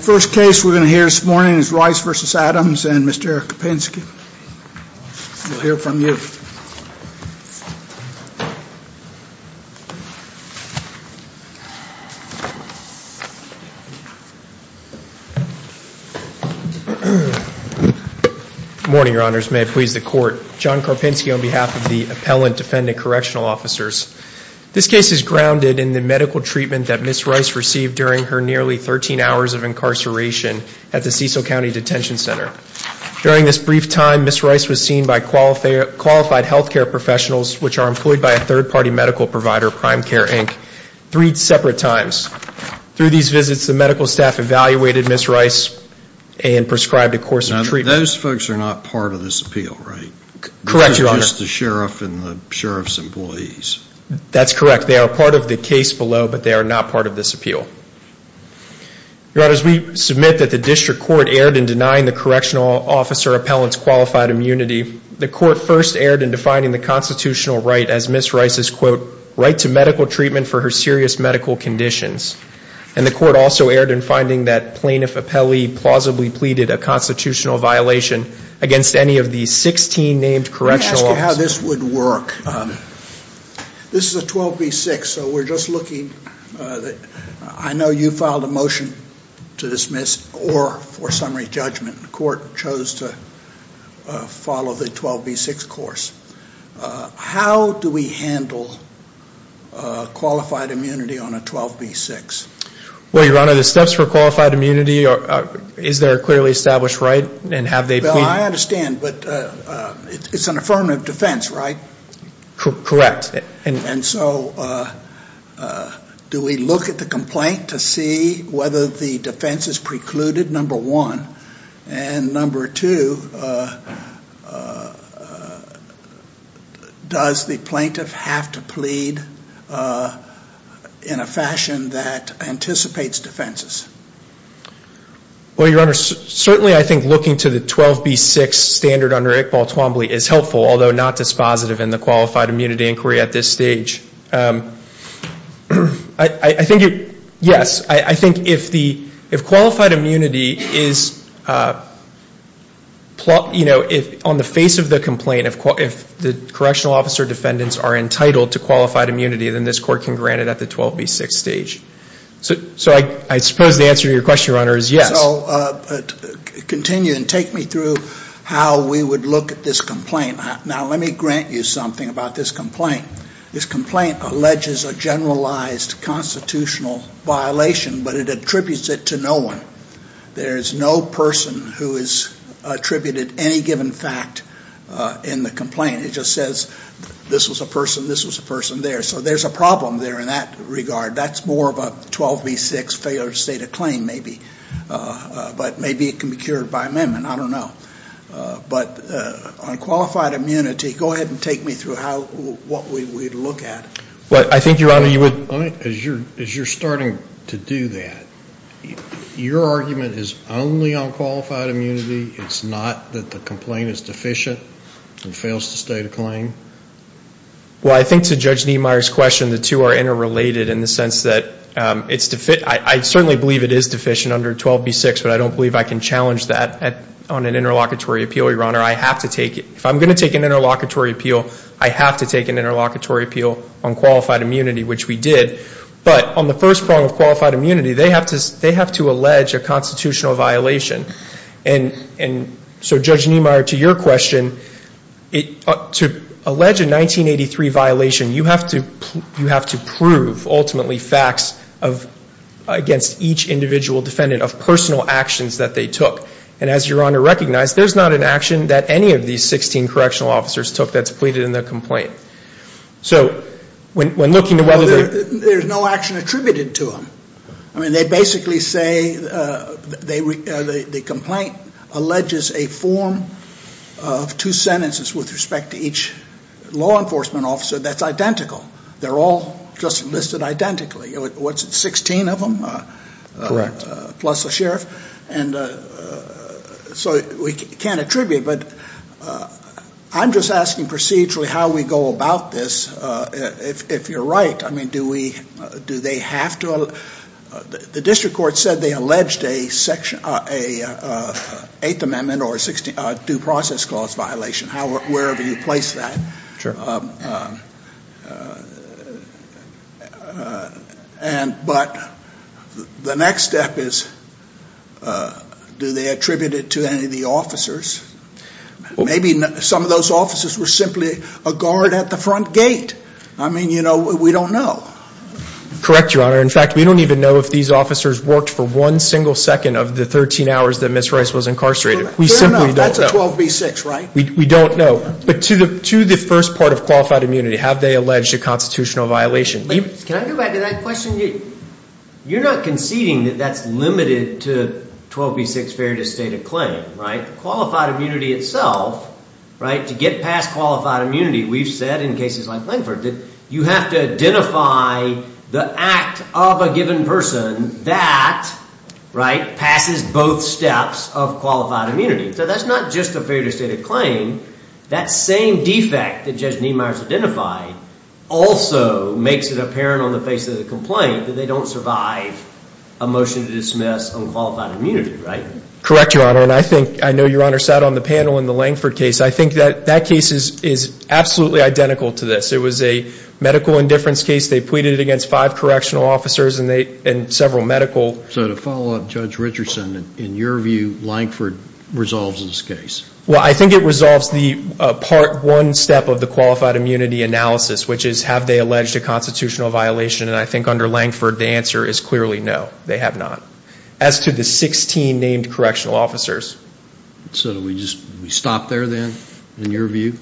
First case we're going to hear this morning is Rice v. Adams and Mr. Eric Karpinski. We'll hear from you. Good morning, Your Honors. May it please the Court. John Karpinski on behalf of the Appellant Defendant Correctional Officers. This case is grounded in the medical treatment that Ms. Rice received during her nearly 13 hours of incarceration at the Cecil County Detention Center. During this brief time, Ms. Rice was seen by qualified health care professionals, which are employed by a third-party medical provider, Prime Care, Inc., three separate times. Through these visits, the medical staff evaluated Ms. Rice and prescribed a course of treatment. Those folks are not part of this appeal, right? Correct, Your Honor. Just the sheriff and the sheriff's employees? That's correct. They are part of the case below, but they are not part of this appeal. Your Honors, we submit that the district court erred in denying the correctional officer appellant's qualified immunity. The court first erred in defining the constitutional right as Ms. Rice's, quote, right to medical treatment for her serious medical conditions. And the court also erred in finding that plaintiff appellee plausibly pleaded a constitutional violation against any of the 16 named correctional officers. Let me ask you how this would work. This is a 12B6, so we're just looking. I know you filed a motion to dismiss or for summary judgment. The court chose to follow the 12B6 course. How do we handle qualified immunity on a 12B6? Well, Your Honor, the steps for qualified immunity, is there a clearly established right? I understand, but it's an affirmative defense, right? Correct. And so, do we look at the complaint to see whether the defense is precluded, number one? And number two, does the plaintiff have to plead in a fashion that anticipates defenses? Well, Your Honor, certainly I think looking to the 12B6 standard under Iqbal Twombly is helpful, although not dispositive in the qualified immunity inquiry at this stage. I think, yes, I think if qualified immunity is, you know, on the face of the complaint, if the correctional officer defendants are entitled to qualified immunity, then this court can grant it at the 12B6 stage. So I suppose the answer to your question, Your Honor, is yes. So continue and take me through how we would look at this complaint. Now, let me grant you something about this complaint. This complaint alleges a generalized constitutional violation, but it attributes it to no one. There is no person who has attributed any given fact in the complaint. It just says this was a person, this was a person there. So there's a problem there in that regard. That's more of a 12B6 failure to state a claim maybe. But maybe it can be cured by amendment. I don't know. But on qualified immunity, go ahead and take me through what we would look at. Well, I think, Your Honor, you would. As you're starting to do that, your argument is only on qualified immunity? It's not that the complaint is deficient and fails to state a claim? Well, I think to Judge Niemeyer's question, the two are interrelated in the sense that it's deficient. I certainly believe it is deficient under 12B6, but I don't believe I can challenge that on an interlocutory appeal, Your Honor. I have to take it. If I'm going to take an interlocutory appeal, I have to take an interlocutory appeal on qualified immunity, which we did. But on the first prong of qualified immunity, they have to allege a constitutional violation. And so, Judge Niemeyer, to your question, to allege a 1983 violation, you have to prove, ultimately, facts against each individual defendant of personal actions that they took. And as Your Honor recognized, there's not an action that any of these 16 correctional officers took that's pleaded in the complaint. So when looking to whether they're- There's no action attributed to them. I mean, they basically say the complaint alleges a form of two sentences with respect to each law enforcement officer that's identical. They're all just listed identically. What's it, 16 of them? Correct. Plus a sheriff. And so we can't attribute, but I'm just asking procedurally how we go about this, if you're right. I mean, do they have to- The district court said they alleged an Eighth Amendment or a Due Process Clause violation, wherever you place that. But the next step is, do they attribute it to any of the officers? Maybe some of those officers were simply a guard at the front gate. I mean, you know, we don't know. Correct, Your Honor. In fact, we don't even know if these officers worked for one single second of the 13 hours that Ms. Rice was incarcerated. Fair enough. We simply don't know. That's a 12B6, right? We don't know. But to the first part of qualified immunity, have they alleged a constitutional violation? Can I go back to that question? You're not conceding that that's limited to 12B6 Fair to State of Claim, right? To get past qualified immunity, we've said in cases like Langford that you have to identify the act of a given person that passes both steps of qualified immunity. So that's not just a Fair to State of Claim. That same defect that Judge Niemeyer has identified also makes it apparent on the face of the complaint that they don't survive a motion to dismiss on qualified immunity, right? Correct, Your Honor. And I think, I know Your Honor sat on the panel in the Langford case. I think that that case is absolutely identical to this. It was a medical indifference case. They pleaded it against five correctional officers and several medical. So to follow up, Judge Richardson, in your view, Langford resolves this case? Well, I think it resolves the part one step of the qualified immunity analysis, which is have they alleged a constitutional violation? And I think under Langford, the answer is clearly no, they have not. As to the 16 named correctional officers. So do we just stop there then, in your view?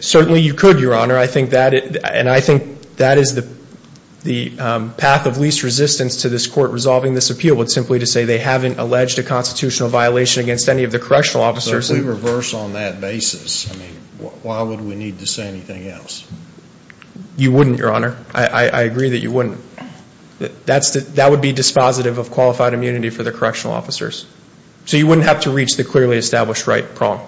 Certainly you could, Your Honor. I think that, and I think that is the path of least resistance to this court resolving this appeal, would simply to say they haven't alleged a constitutional violation against any of the correctional officers. So if we reverse on that basis, I mean, why would we need to say anything else? You wouldn't, Your Honor. I agree that you wouldn't. That would be dispositive of qualified immunity for the correctional officers. So you wouldn't have to reach the clearly established right prong.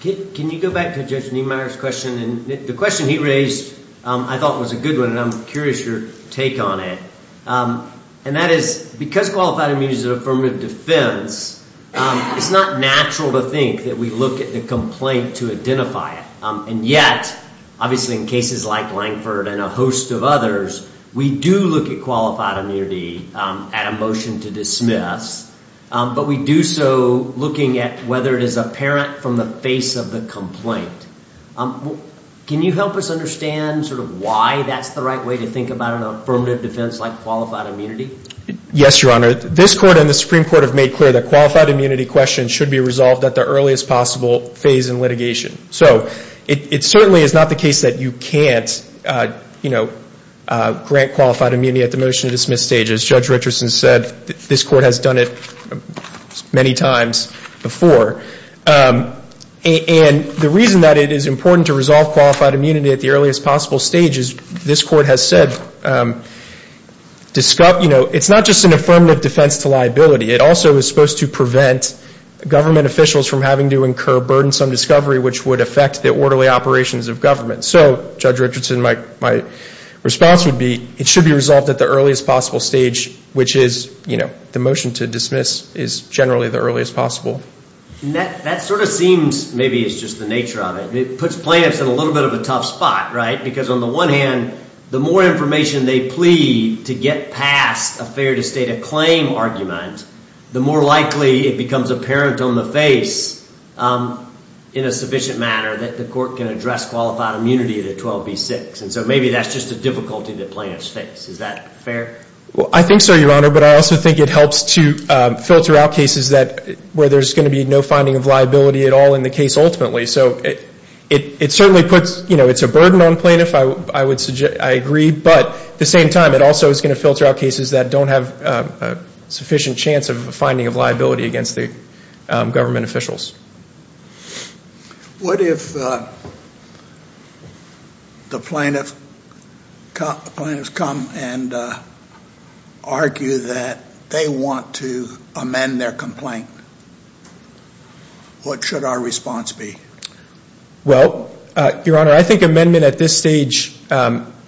Can you go back to Judge Niemeyer's question? The question he raised I thought was a good one, and I'm curious your take on it. And that is, because qualified immunity is an affirmative defense, it's not natural to think that we look at the complaint to identify it. And yet, obviously in cases like Lankford and a host of others, we do look at qualified immunity at a motion to dismiss. But we do so looking at whether it is apparent from the face of the complaint. Can you help us understand sort of why that's the right way to think about an affirmative defense like qualified immunity? Yes, Your Honor. This court and the Supreme Court have made clear that qualified immunity questions should be resolved at the earliest possible phase in litigation. So it certainly is not the case that you can't, you know, grant qualified immunity at the motion to dismiss stage. As Judge Richardson said, this court has done it many times before. And the reason that it is important to resolve qualified immunity at the earliest possible stage, as this court has said, you know, it's not just an affirmative defense to liability. It also is supposed to prevent government officials from having to incur burdensome discovery, which would affect the orderly operations of government. So, Judge Richardson, my response would be it should be resolved at the earliest possible stage, which is, you know, the motion to dismiss is generally the earliest possible. That sort of seems maybe it's just the nature of it. It puts plaintiffs in a little bit of a tough spot, right? Because on the one hand, the more information they plead to get past a fair to state a claim argument, the more likely it becomes apparent on the face in a sufficient manner that the court can address qualified immunity to 12b-6. And so maybe that's just a difficulty that plaintiffs face. Is that fair? Well, I think so, Your Honor. But I also think it helps to filter out cases where there's going to be no finding of liability at all in the case ultimately. So it certainly puts, you know, it's a burden on plaintiffs, I agree. But at the same time, it also is going to filter out cases that don't have sufficient chance of finding of liability against the government officials. What if the plaintiffs come and argue that they want to amend their complaint? What should our response be? Well, Your Honor, I think amendment at this stage,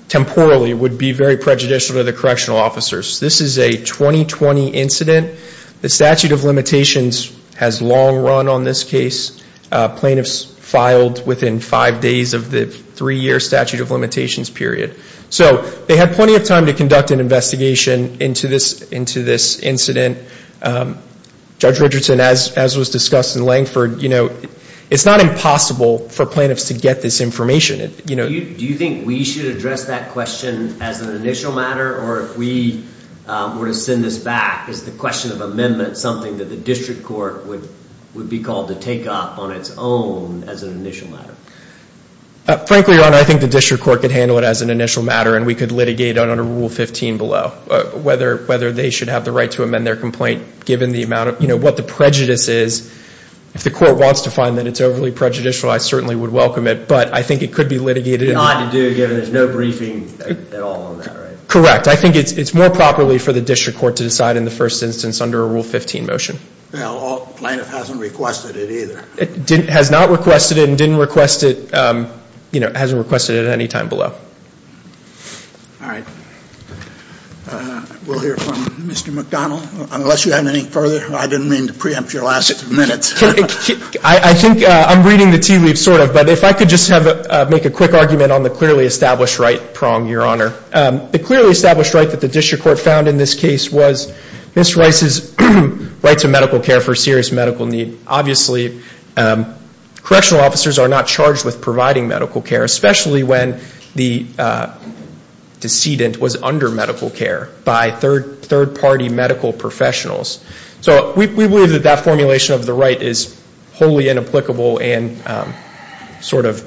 temporally, would be very prejudicial to the correctional officers. This is a 2020 incident. The statute of limitations has long run on this case. Plaintiffs filed within five days of the three-year statute of limitations period. So they had plenty of time to conduct an investigation into this incident. Judge Richardson, as was discussed in Langford, you know, it's not impossible for plaintiffs to get this information. Do you think we should address that question as an initial matter, or if we were to send this back as the question of amendment, something that the district court would be called to take up on its own as an initial matter? Frankly, Your Honor, I think the district court could handle it as an initial matter, and we could litigate it under Rule 15 below, whether they should have the right to amend their complaint, given the amount of, you know, what the prejudice is. If the court wants to find that it's overly prejudicial, I certainly would welcome it, but I think it could be litigated. Not to do, given there's no briefing at all on that, right? Correct. I think it's more properly for the district court to decide in the first instance under a Rule 15 motion. Well, the plaintiff hasn't requested it either. Has not requested it and didn't request it, you know, hasn't requested it at any time below. All right. We'll hear from Mr. McDonnell, unless you have any further. I didn't mean to preempt your last six minutes. I think I'm reading the tea leaves, sort of, but if I could just make a quick argument on the clearly established right prong, Your Honor. The clearly established right that the district court found in this case was Ms. Rice's right to medical care for serious medical need. Obviously, correctional officers are not charged with providing medical care, especially when the decedent was under medical care by third-party medical professionals. So we believe that that formulation of the right is wholly inapplicable and sort of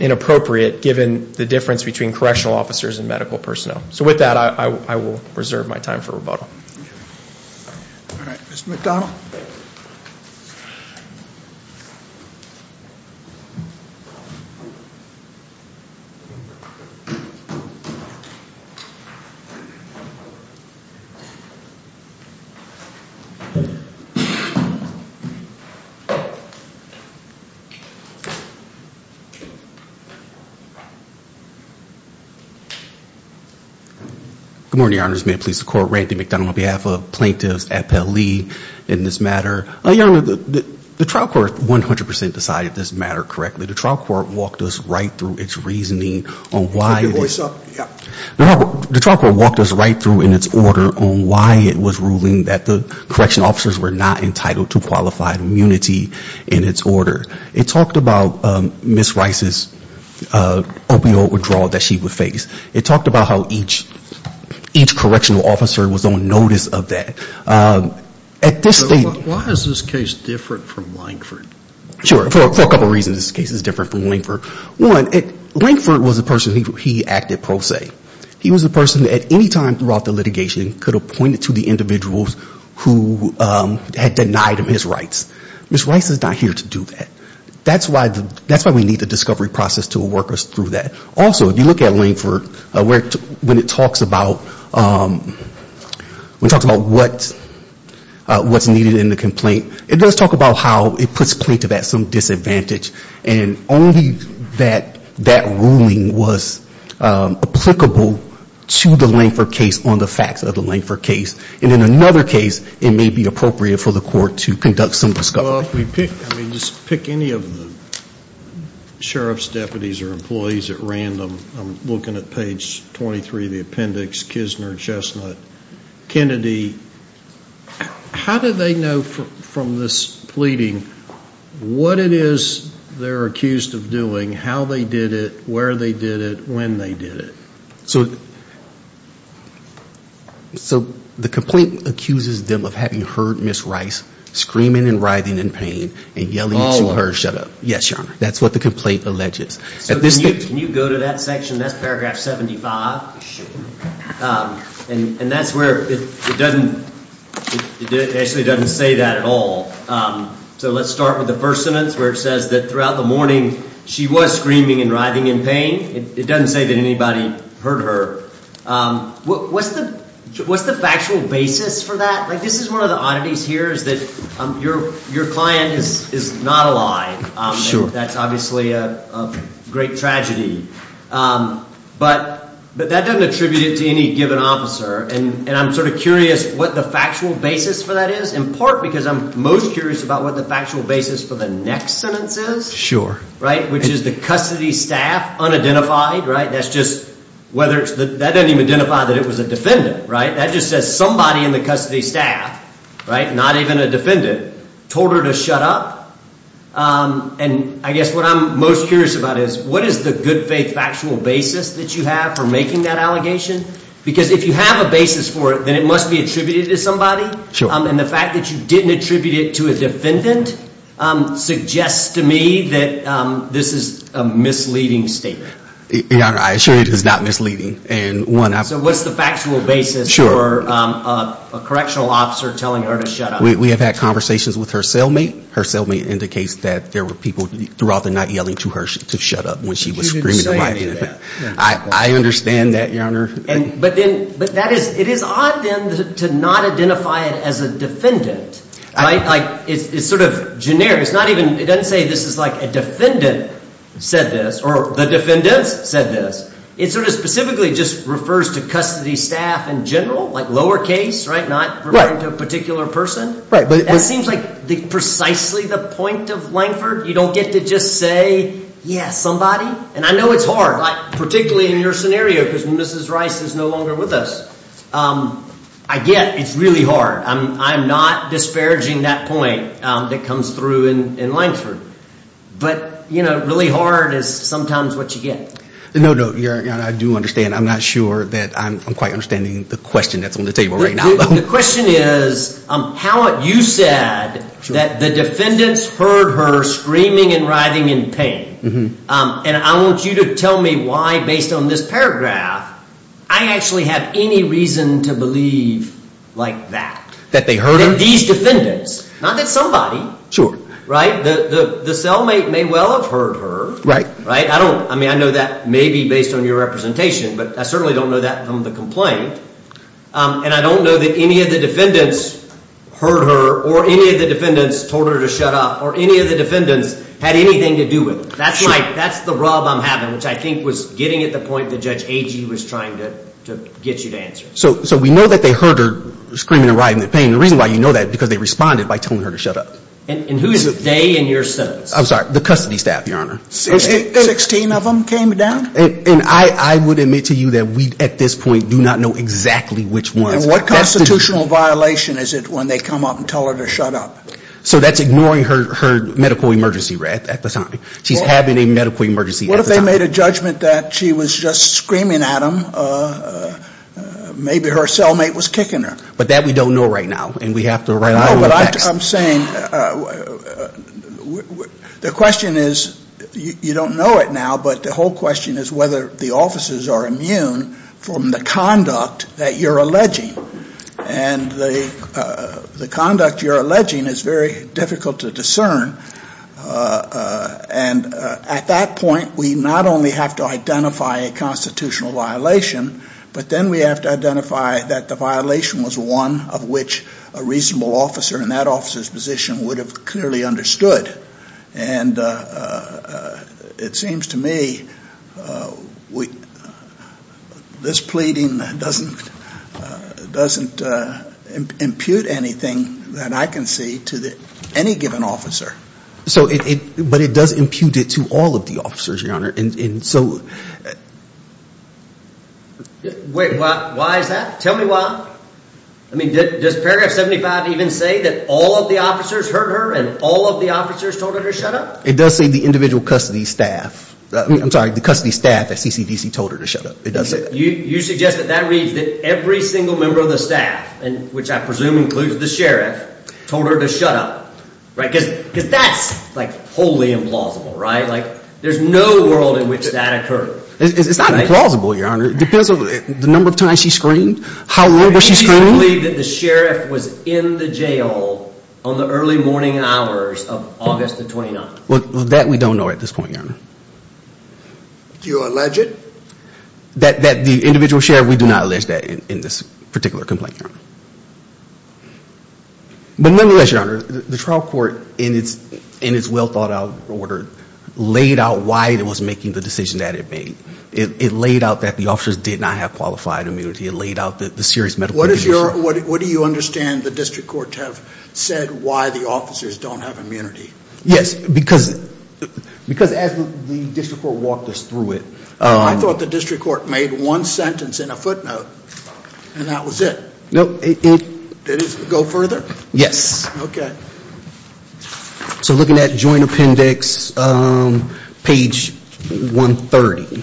inappropriate, given the difference between correctional officers and medical personnel. So with that, I will reserve my time for rebuttal. All right. Mr. McDonnell. Good morning, Your Honors. May it please the Court, Randy McDonnell on behalf of plaintiffs at Pele in this matter. Your Honor, the trial court 100 percent decided this matter correctly. The trial court walked us right through its reasoning on why. The trial court walked us right through in its order on why it was ruling that the correctional officers were not entitled to qualified immunity in its order. It talked about Ms. Rice's opioid withdrawal that she would face. It talked about how each correctional officer was on notice of that. At this stage. Why is this case different from Lankford? Sure. For a couple reasons, this case is different from Lankford. One, Lankford was the person he acted pro se. He was the person at any time throughout the litigation could have pointed to the individuals who had denied him his rights. Ms. Rice is not here to do that. That's why we need the discovery process to work us through that. Also, if you look at Lankford, when it talks about what's needed in the complaint, it does talk about how it puts plaintiff at some disadvantage. And only that that ruling was applicable to the Lankford case on the facts of the Lankford case. And in another case, it may be appropriate for the court to conduct some discovery. Well, if we pick, I mean, just pick any of the sheriff's deputies or employees at random. I'm looking at page 23 of the appendix, Kisner, Chestnut, Kennedy. How do they know from this pleading what it is they're accused of doing, how they did it, where they did it, when they did it? So the complaint accuses them of having heard Ms. Rice screaming and writhing in pain and yelling at her to shut up. Yes, Your Honor. That's what the complaint alleges. Can you go to that section? That's paragraph 75. And that's where it actually doesn't say that at all. So let's start with the first sentence where it says that throughout the morning she was screaming and writhing in pain. It doesn't say that anybody heard her. What's the factual basis for that? Like, this is one of the oddities here is that your client is not alive. Sure. That's obviously a great tragedy. But that doesn't attribute it to any given officer. And I'm sort of curious what the factual basis for that is, in part because I'm most curious about what the factual basis for the next sentence is. Sure. Which is the custody staff unidentified. That doesn't even identify that it was a defendant. That just says somebody in the custody staff, not even a defendant, told her to shut up. And I guess what I'm most curious about is what is the good faith factual basis that you have for making that allegation? Because if you have a basis for it, then it must be attributed to somebody. Sure. And the fact that you didn't attribute it to a defendant suggests to me that this is a misleading statement. Your Honor, I assure you it is not misleading. So what's the factual basis for a correctional officer telling her to shut up? We have had conversations with her cellmate. Her cellmate indicates that there were people throughout the night yelling to her to shut up when she was screaming. You didn't say any of that. I understand that, Your Honor. But it is odd, then, to not identify it as a defendant. It's sort of generic. It doesn't say this is like a defendant said this or the defendants said this. It sort of specifically just refers to custody staff in general, like lower case, not referring to a particular person. That seems like precisely the point of Lankford. You don't get to just say, yeah, somebody. And I know it's hard, particularly in your scenario because Mrs. Rice is no longer with us. I get it's really hard. I'm not disparaging that point that comes through in Lankford. But, you know, really hard is sometimes what you get. No, no, Your Honor, I do understand. I'm not sure that I'm quite understanding the question that's on the table right now. The question is how you said that the defendants heard her screaming and writhing in pain. And I want you to tell me why, based on this paragraph, I actually have any reason to believe like that. That they heard her? These defendants. Not that somebody. Sure. Right? The cellmate may well have heard her. Right. I mean, I know that may be based on your representation, but I certainly don't know that from the complaint. And I don't know that any of the defendants heard her or any of the defendants told her to shut up or any of the defendants had anything to do with it. That's the rub I'm having, which I think was getting at the point that Judge Agee was trying to get you to answer. So we know that they heard her screaming and writhing in pain. The reason why you know that is because they responded by telling her to shut up. And who's they and your sons? I'm sorry, the custody staff, Your Honor. Sixteen of them came down? And I would admit to you that we, at this point, do not know exactly which ones. And what constitutional violation is it when they come up and tell her to shut up? So that's ignoring her medical emergency at the time. She's having a medical emergency at the time. What if they made a judgment that she was just screaming at them? Maybe her cellmate was kicking her. But that we don't know right now, and we have to rely on the facts. No, but I'm saying the question is, you don't know it now, but the whole question is whether the officers are immune from the conduct that you're alleging. And the conduct you're alleging is very difficult to discern. And at that point, we not only have to identify a constitutional violation, but then we have to identify that the violation was one of which a reasonable officer in that officer's position would have clearly understood. And it seems to me this pleading doesn't impute anything that I can see to any given officer. But it does impute it to all of the officers, Your Honor. Wait, why is that? Tell me why. I mean, does paragraph 75 even say that all of the officers heard her and all of the officers told her to shut up? It does say the individual custody staff. I'm sorry, the custody staff at CCDC told her to shut up. It does say that. You suggest that that reads that every single member of the staff, which I presume includes the sheriff, told her to shut up. Because that's wholly implausible, right? Like, there's no world in which that occurred. It's not implausible, Your Honor. It depends on the number of times she screamed, how little she screamed. I believe that the sheriff was in the jail on the early morning hours of August the 29th. Well, that we don't know at this point, Your Honor. Do you allege it? That the individual sheriff, we do not allege that in this particular complaint, Your Honor. But nonetheless, Your Honor, the trial court, in its well-thought-out order, laid out why it was making the decision that it made. It laid out that the officers did not have qualified immunity. It laid out the serious medical condition. What do you understand the district court have said why the officers don't have immunity? Yes, because as the district court walked us through it. I thought the district court made one sentence in a footnote, and that was it. No. Did it go further? Yes. Okay. So looking at joint appendix, page 130.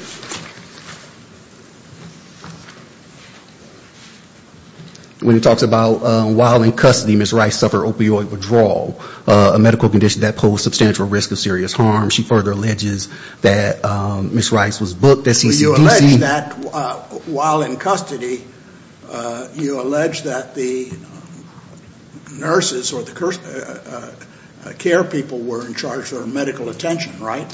When it talks about while in custody, Ms. Rice suffered opioid withdrawal, a medical condition that posed substantial risk of serious harm. She further alleges that Ms. Rice was booked at CCDC. While in custody, you allege that the nurses or the care people were in charge of her medical attention, right?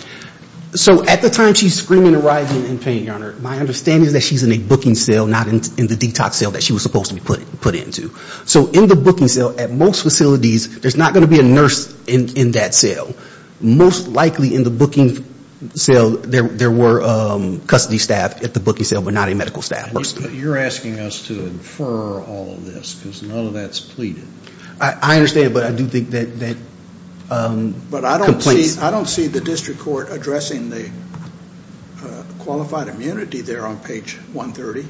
So at the time she's screaming and writhing in pain, Your Honor, my understanding is that she's in a booking cell, not in the detox cell that she was supposed to be put into. So in the booking cell, at most facilities, there's not going to be a nurse in that cell. Most likely in the booking cell, there were custody staff at the booking cell, but not any medical staff. You're asking us to infer all of this, because none of that's pleaded. I understand, but I do think that complaints. But I don't see the district court addressing the qualified immunity there on page 130.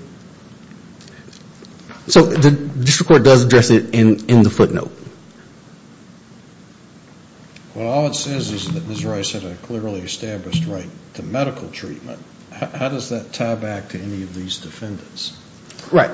So the district court does address it in the footnote. Well, all it says is that Ms. Rice had a clearly established right to medical treatment. How does that tie back to any of these defendants? Right.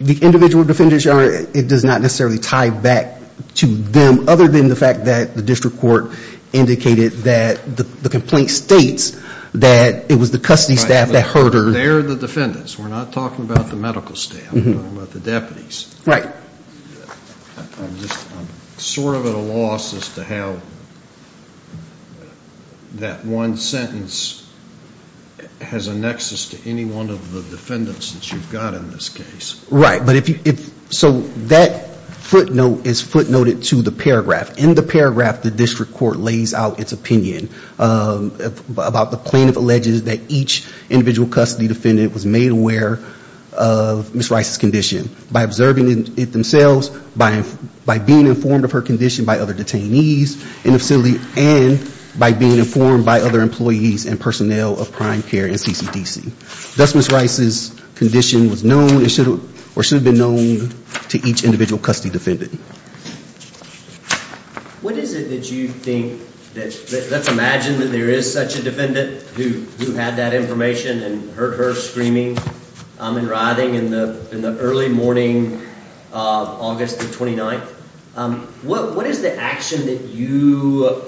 The individual defendants, Your Honor, it does not necessarily tie back to them, other than the fact that the district court indicated that the complaint states that it was the custody staff that hurt her. They're the defendants. We're not talking about the medical staff. We're talking about the deputies. Right. I'm sort of at a loss as to how that one sentence has a nexus to any one of the defendants that you've got in this case. Right. So that footnote is footnoted to the paragraph. In the paragraph, the district court lays out its opinion about the plaintiff alleges that each individual custody defendant was made aware of Ms. Rice's condition. By observing it themselves, by being informed of her condition by other detainees in the facility, and by being informed by other employees and personnel of prime care and CCDC. Thus, Ms. Rice's condition was known or should have been known to each individual custody defendant. What is it that you think that's imagined that there is such a defendant who had that information and heard her screaming and writhing in the early morning of August the 29th? What is the action that you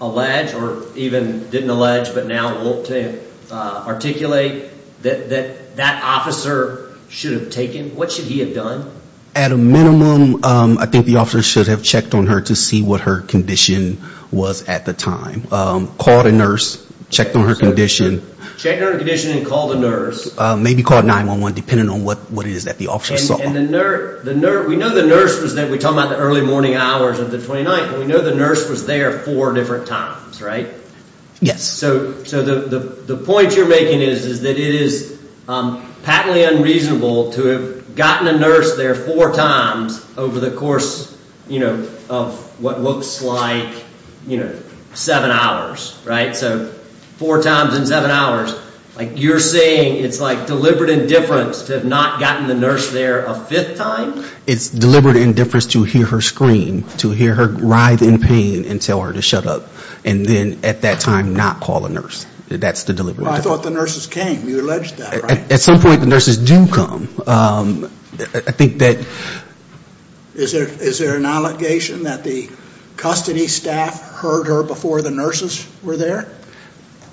allege or even didn't allege but now want to articulate that that officer should have taken? What should he have done? At a minimum, I think the officer should have checked on her to see what her condition was at the time. Called a nurse, checked on her condition. Checked on her condition and called a nurse. Maybe called 911, depending on what it is that the officer saw. We know the nurse was there. We're talking about the early morning hours of the 29th. We know the nurse was there four different times, right? Yes. So the point you're making is that it is patently unreasonable to have gotten a nurse there four times over the course of what looks like seven hours. Right? So four times in seven hours. Like you're saying it's like deliberate indifference to have not gotten the nurse there a fifth time? It's deliberate indifference to hear her scream, to hear her writhe in pain and tell her to shut up. And then at that time not call a nurse. That's the deliberate indifference. I thought the nurses came. You alleged that, right? At some point the nurses do come. I think that... Is there an allegation that the custody staff heard her before the nurses were there?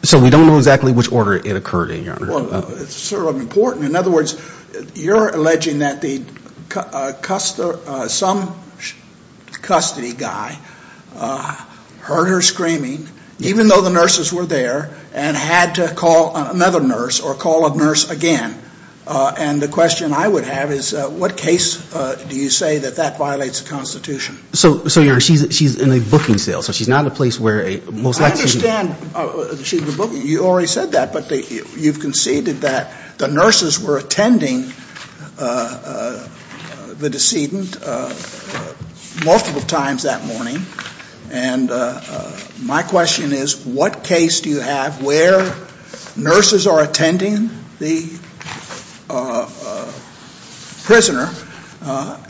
So we don't know exactly which order it occurred in, Your Honor. It's sort of important. In other words, you're alleging that some custody guy heard her screaming, even though the nurses were there, and had to call another nurse or call a nurse again. And the question I would have is what case do you say that that violates the Constitution? So, Your Honor, she's in a booking cell. So she's not in a place where a most likely... I understand she's in a booking. You already said that. But you've conceded that the nurses were attending the decedent multiple times that morning. And my question is what case do you have where nurses are attending the prisoner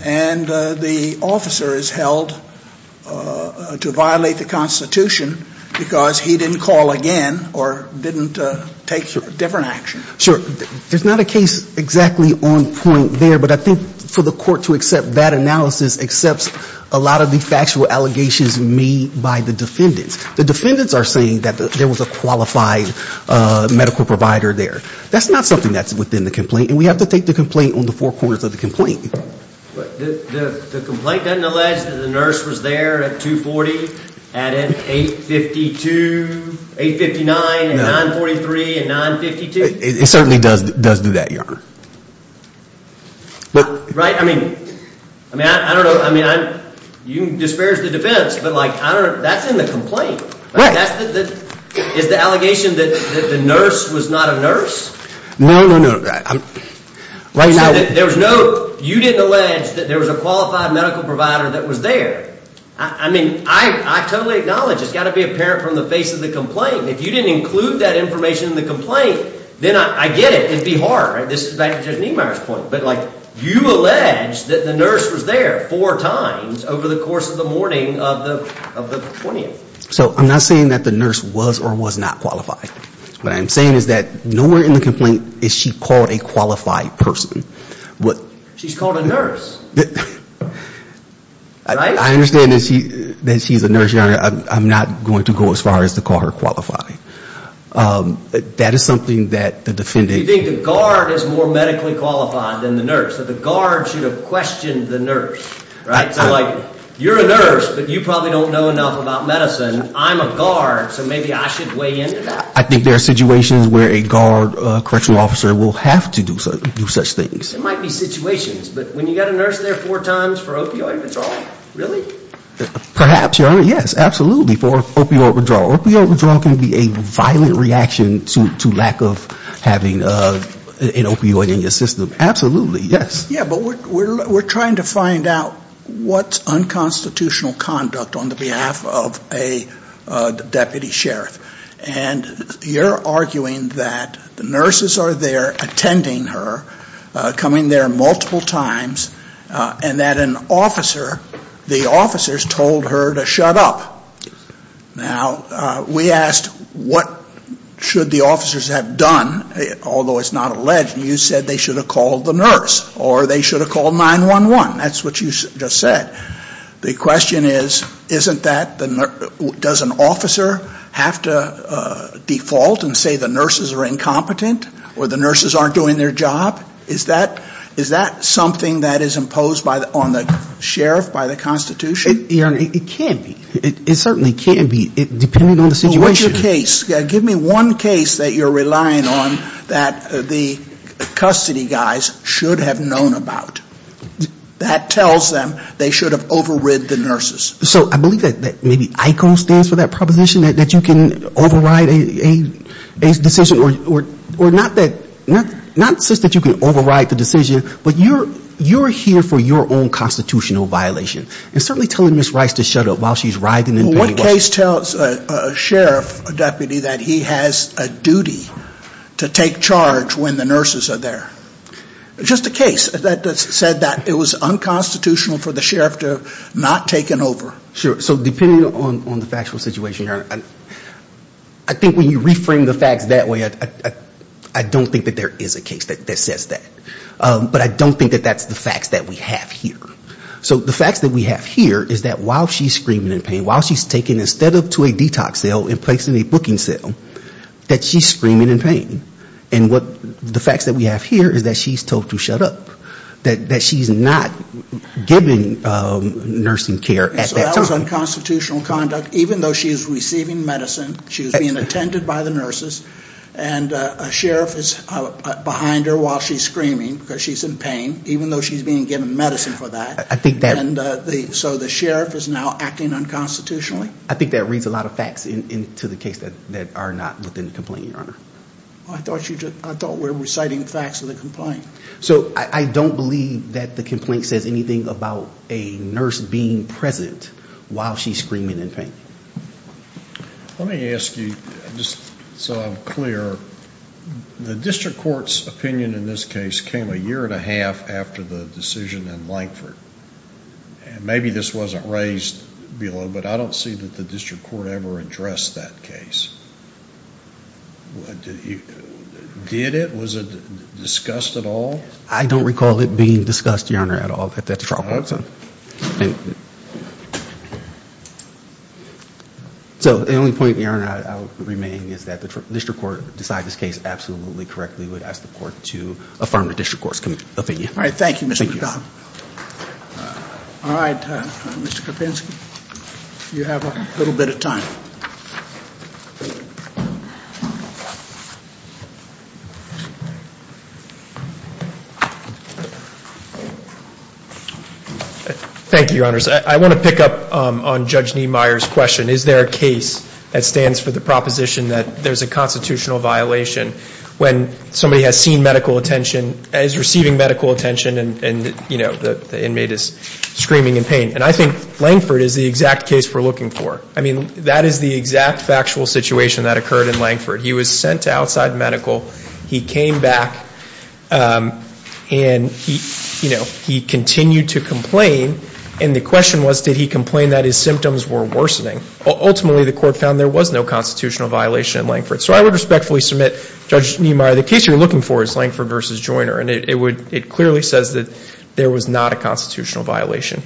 and the officer is held to violate the Constitution because he didn't call again or didn't take different action? Sure. There's not a case exactly on point there. But I think for the court to accept that analysis accepts a lot of the factual allegations made by the defendants. The defendants are saying that there was a qualified medical provider there. That's not something that's within the complaint. And we have to take the complaint on the four corners of the complaint. The complaint doesn't allege that the nurse was there at 240, at 852, 859, and 943, and 952? It certainly does do that, Your Honor. Right. I mean, I don't know. You can disparage the defense, but that's in the complaint. Right. Is the allegation that the nurse was not a nurse? No, no, no. You didn't allege that there was a qualified medical provider that was there. I mean, I totally acknowledge. It's got to be apparent from the face of the complaint. If you didn't include that information in the complaint, then I get it. It'd be hard. This is back to Judge Niemeyer's point. But, like, you allege that the nurse was there four times over the course of the morning of the 20th. So I'm not saying that the nurse was or was not qualified. What I'm saying is that nowhere in the complaint is she called a qualified person. She's called a nurse. Right? I understand that she's a nurse, Your Honor. I'm not going to go as far as to call her qualified. That is something that the defendant— You think the guard is more medically qualified than the nurse, that the guard should have questioned the nurse, right? So, like, you're a nurse, but you probably don't know enough about medicine. I'm a guard, so maybe I should weigh in to that. I think there are situations where a guard, a correctional officer, will have to do such things. It might be situations. But when you've got a nurse there four times for opioid withdrawal, really? Perhaps, Your Honor. Yes, absolutely. For opioid withdrawal. Opioid withdrawal can be a violent reaction to lack of having an opioid in your system. Absolutely. Yes. Yeah, but we're trying to find out what's unconstitutional conduct on the behalf of a deputy sheriff. And you're arguing that the nurses are there attending her, coming there multiple times, and that an officer, the officers, told her to shut up. Now, we asked what should the officers have done, although it's not alleged, and you said they should have called the nurse or they should have called 911. That's what you just said. The question is, isn't that, does an officer have to default and say the nurses are incompetent or the nurses aren't doing their job? Is that something that is imposed on the sheriff by the Constitution? Your Honor, it can be. It certainly can be, depending on the situation. Well, what's your case? Give me one case that you're relying on that the custody guys should have known about. That tells them they should have overrid the nurses. So I believe that maybe ICO stands for that proposition, that you can override a decision, or not such that you can override the decision, but you're here for your own constitutional violation. And certainly telling Ms. Rice to shut up while she's writhing in pain. The case tells a sheriff, a deputy, that he has a duty to take charge when the nurses are there. Just a case that said that it was unconstitutional for the sheriff to have not taken over. Sure. So depending on the factual situation, Your Honor, I think when you reframe the facts that way, I don't think that there is a case that says that. But I don't think that that's the facts that we have here. So the facts that we have here is that while she's screaming in pain, while she's taken instead of to a detox cell and placed in a booking cell, that she's screaming in pain. And the facts that we have here is that she's told to shut up. That she's not given nursing care at that time. So that was unconstitutional conduct, even though she's receiving medicine, she's being attended by the nurses, and a sheriff is behind her while she's screaming because she's in pain, even though she's being given medicine for that. So the sheriff is now acting unconstitutionally? I think that reads a lot of facts into the case that are not within the complaint, Your Honor. I thought we were reciting the facts of the complaint. So I don't believe that the complaint says anything about a nurse being present while she's screaming in pain. Let me ask you, just so I'm clear. The district court's opinion in this case came a year and a half after the decision in Lankford. Maybe this wasn't raised below, but I don't see that the district court ever addressed that case. Did it? Was it discussed at all? I don't recall it being discussed, Your Honor, at all at that trial. So the only point, Your Honor, I would remain is that the district court decided this case absolutely correctly. I would ask the court to affirm the district court's opinion. All right, thank you, Mr. McDonough. All right, Mr. Kopinski, you have a little bit of time. Thank you, Your Honors. I want to pick up on Judge Niemeyer's question. Is there a case that stands for the proposition that there's a constitutional violation when somebody has seen medical attention, is receiving medical attention, and, you know, the inmate is screaming in pain? And I think Lankford is the exact case we're looking for. I mean, that is the exact factual situation that occurred in Lankford. He was sent to outside medical. He came back, and, you know, he continued to complain, and the question was did he complain that his symptoms were worsening? Ultimately, the court found there was no constitutional violation in Lankford. So I would respectfully submit, Judge Niemeyer, the case you're looking for is Lankford v. Joyner, and it clearly says that there was not a constitutional violation.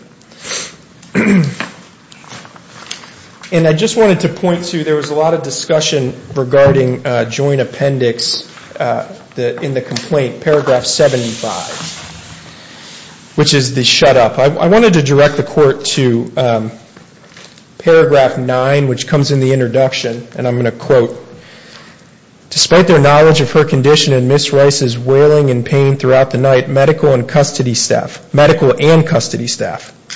And I just wanted to point to there was a lot of discussion regarding joint appendix in the complaint, paragraph 75, which is the shut up. I wanted to direct the court to paragraph 9, which comes in the introduction, and I'm going to quote, despite their knowledge of her condition and Ms. Rice's wailing and pain throughout the night, medical and custody staff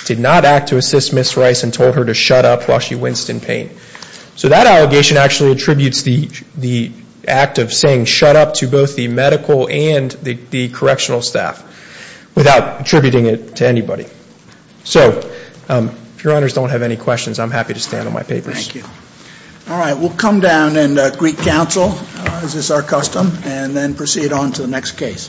did not act to assist Ms. Rice and told her to shut up while she winced in pain. So that allegation actually attributes the act of saying shut up to both the medical and the correctional staff without attributing it to anybody. So if your honors don't have any questions, I'm happy to stand on my papers. All right, we'll come down and greet counsel as is our custom and then proceed on to the next case.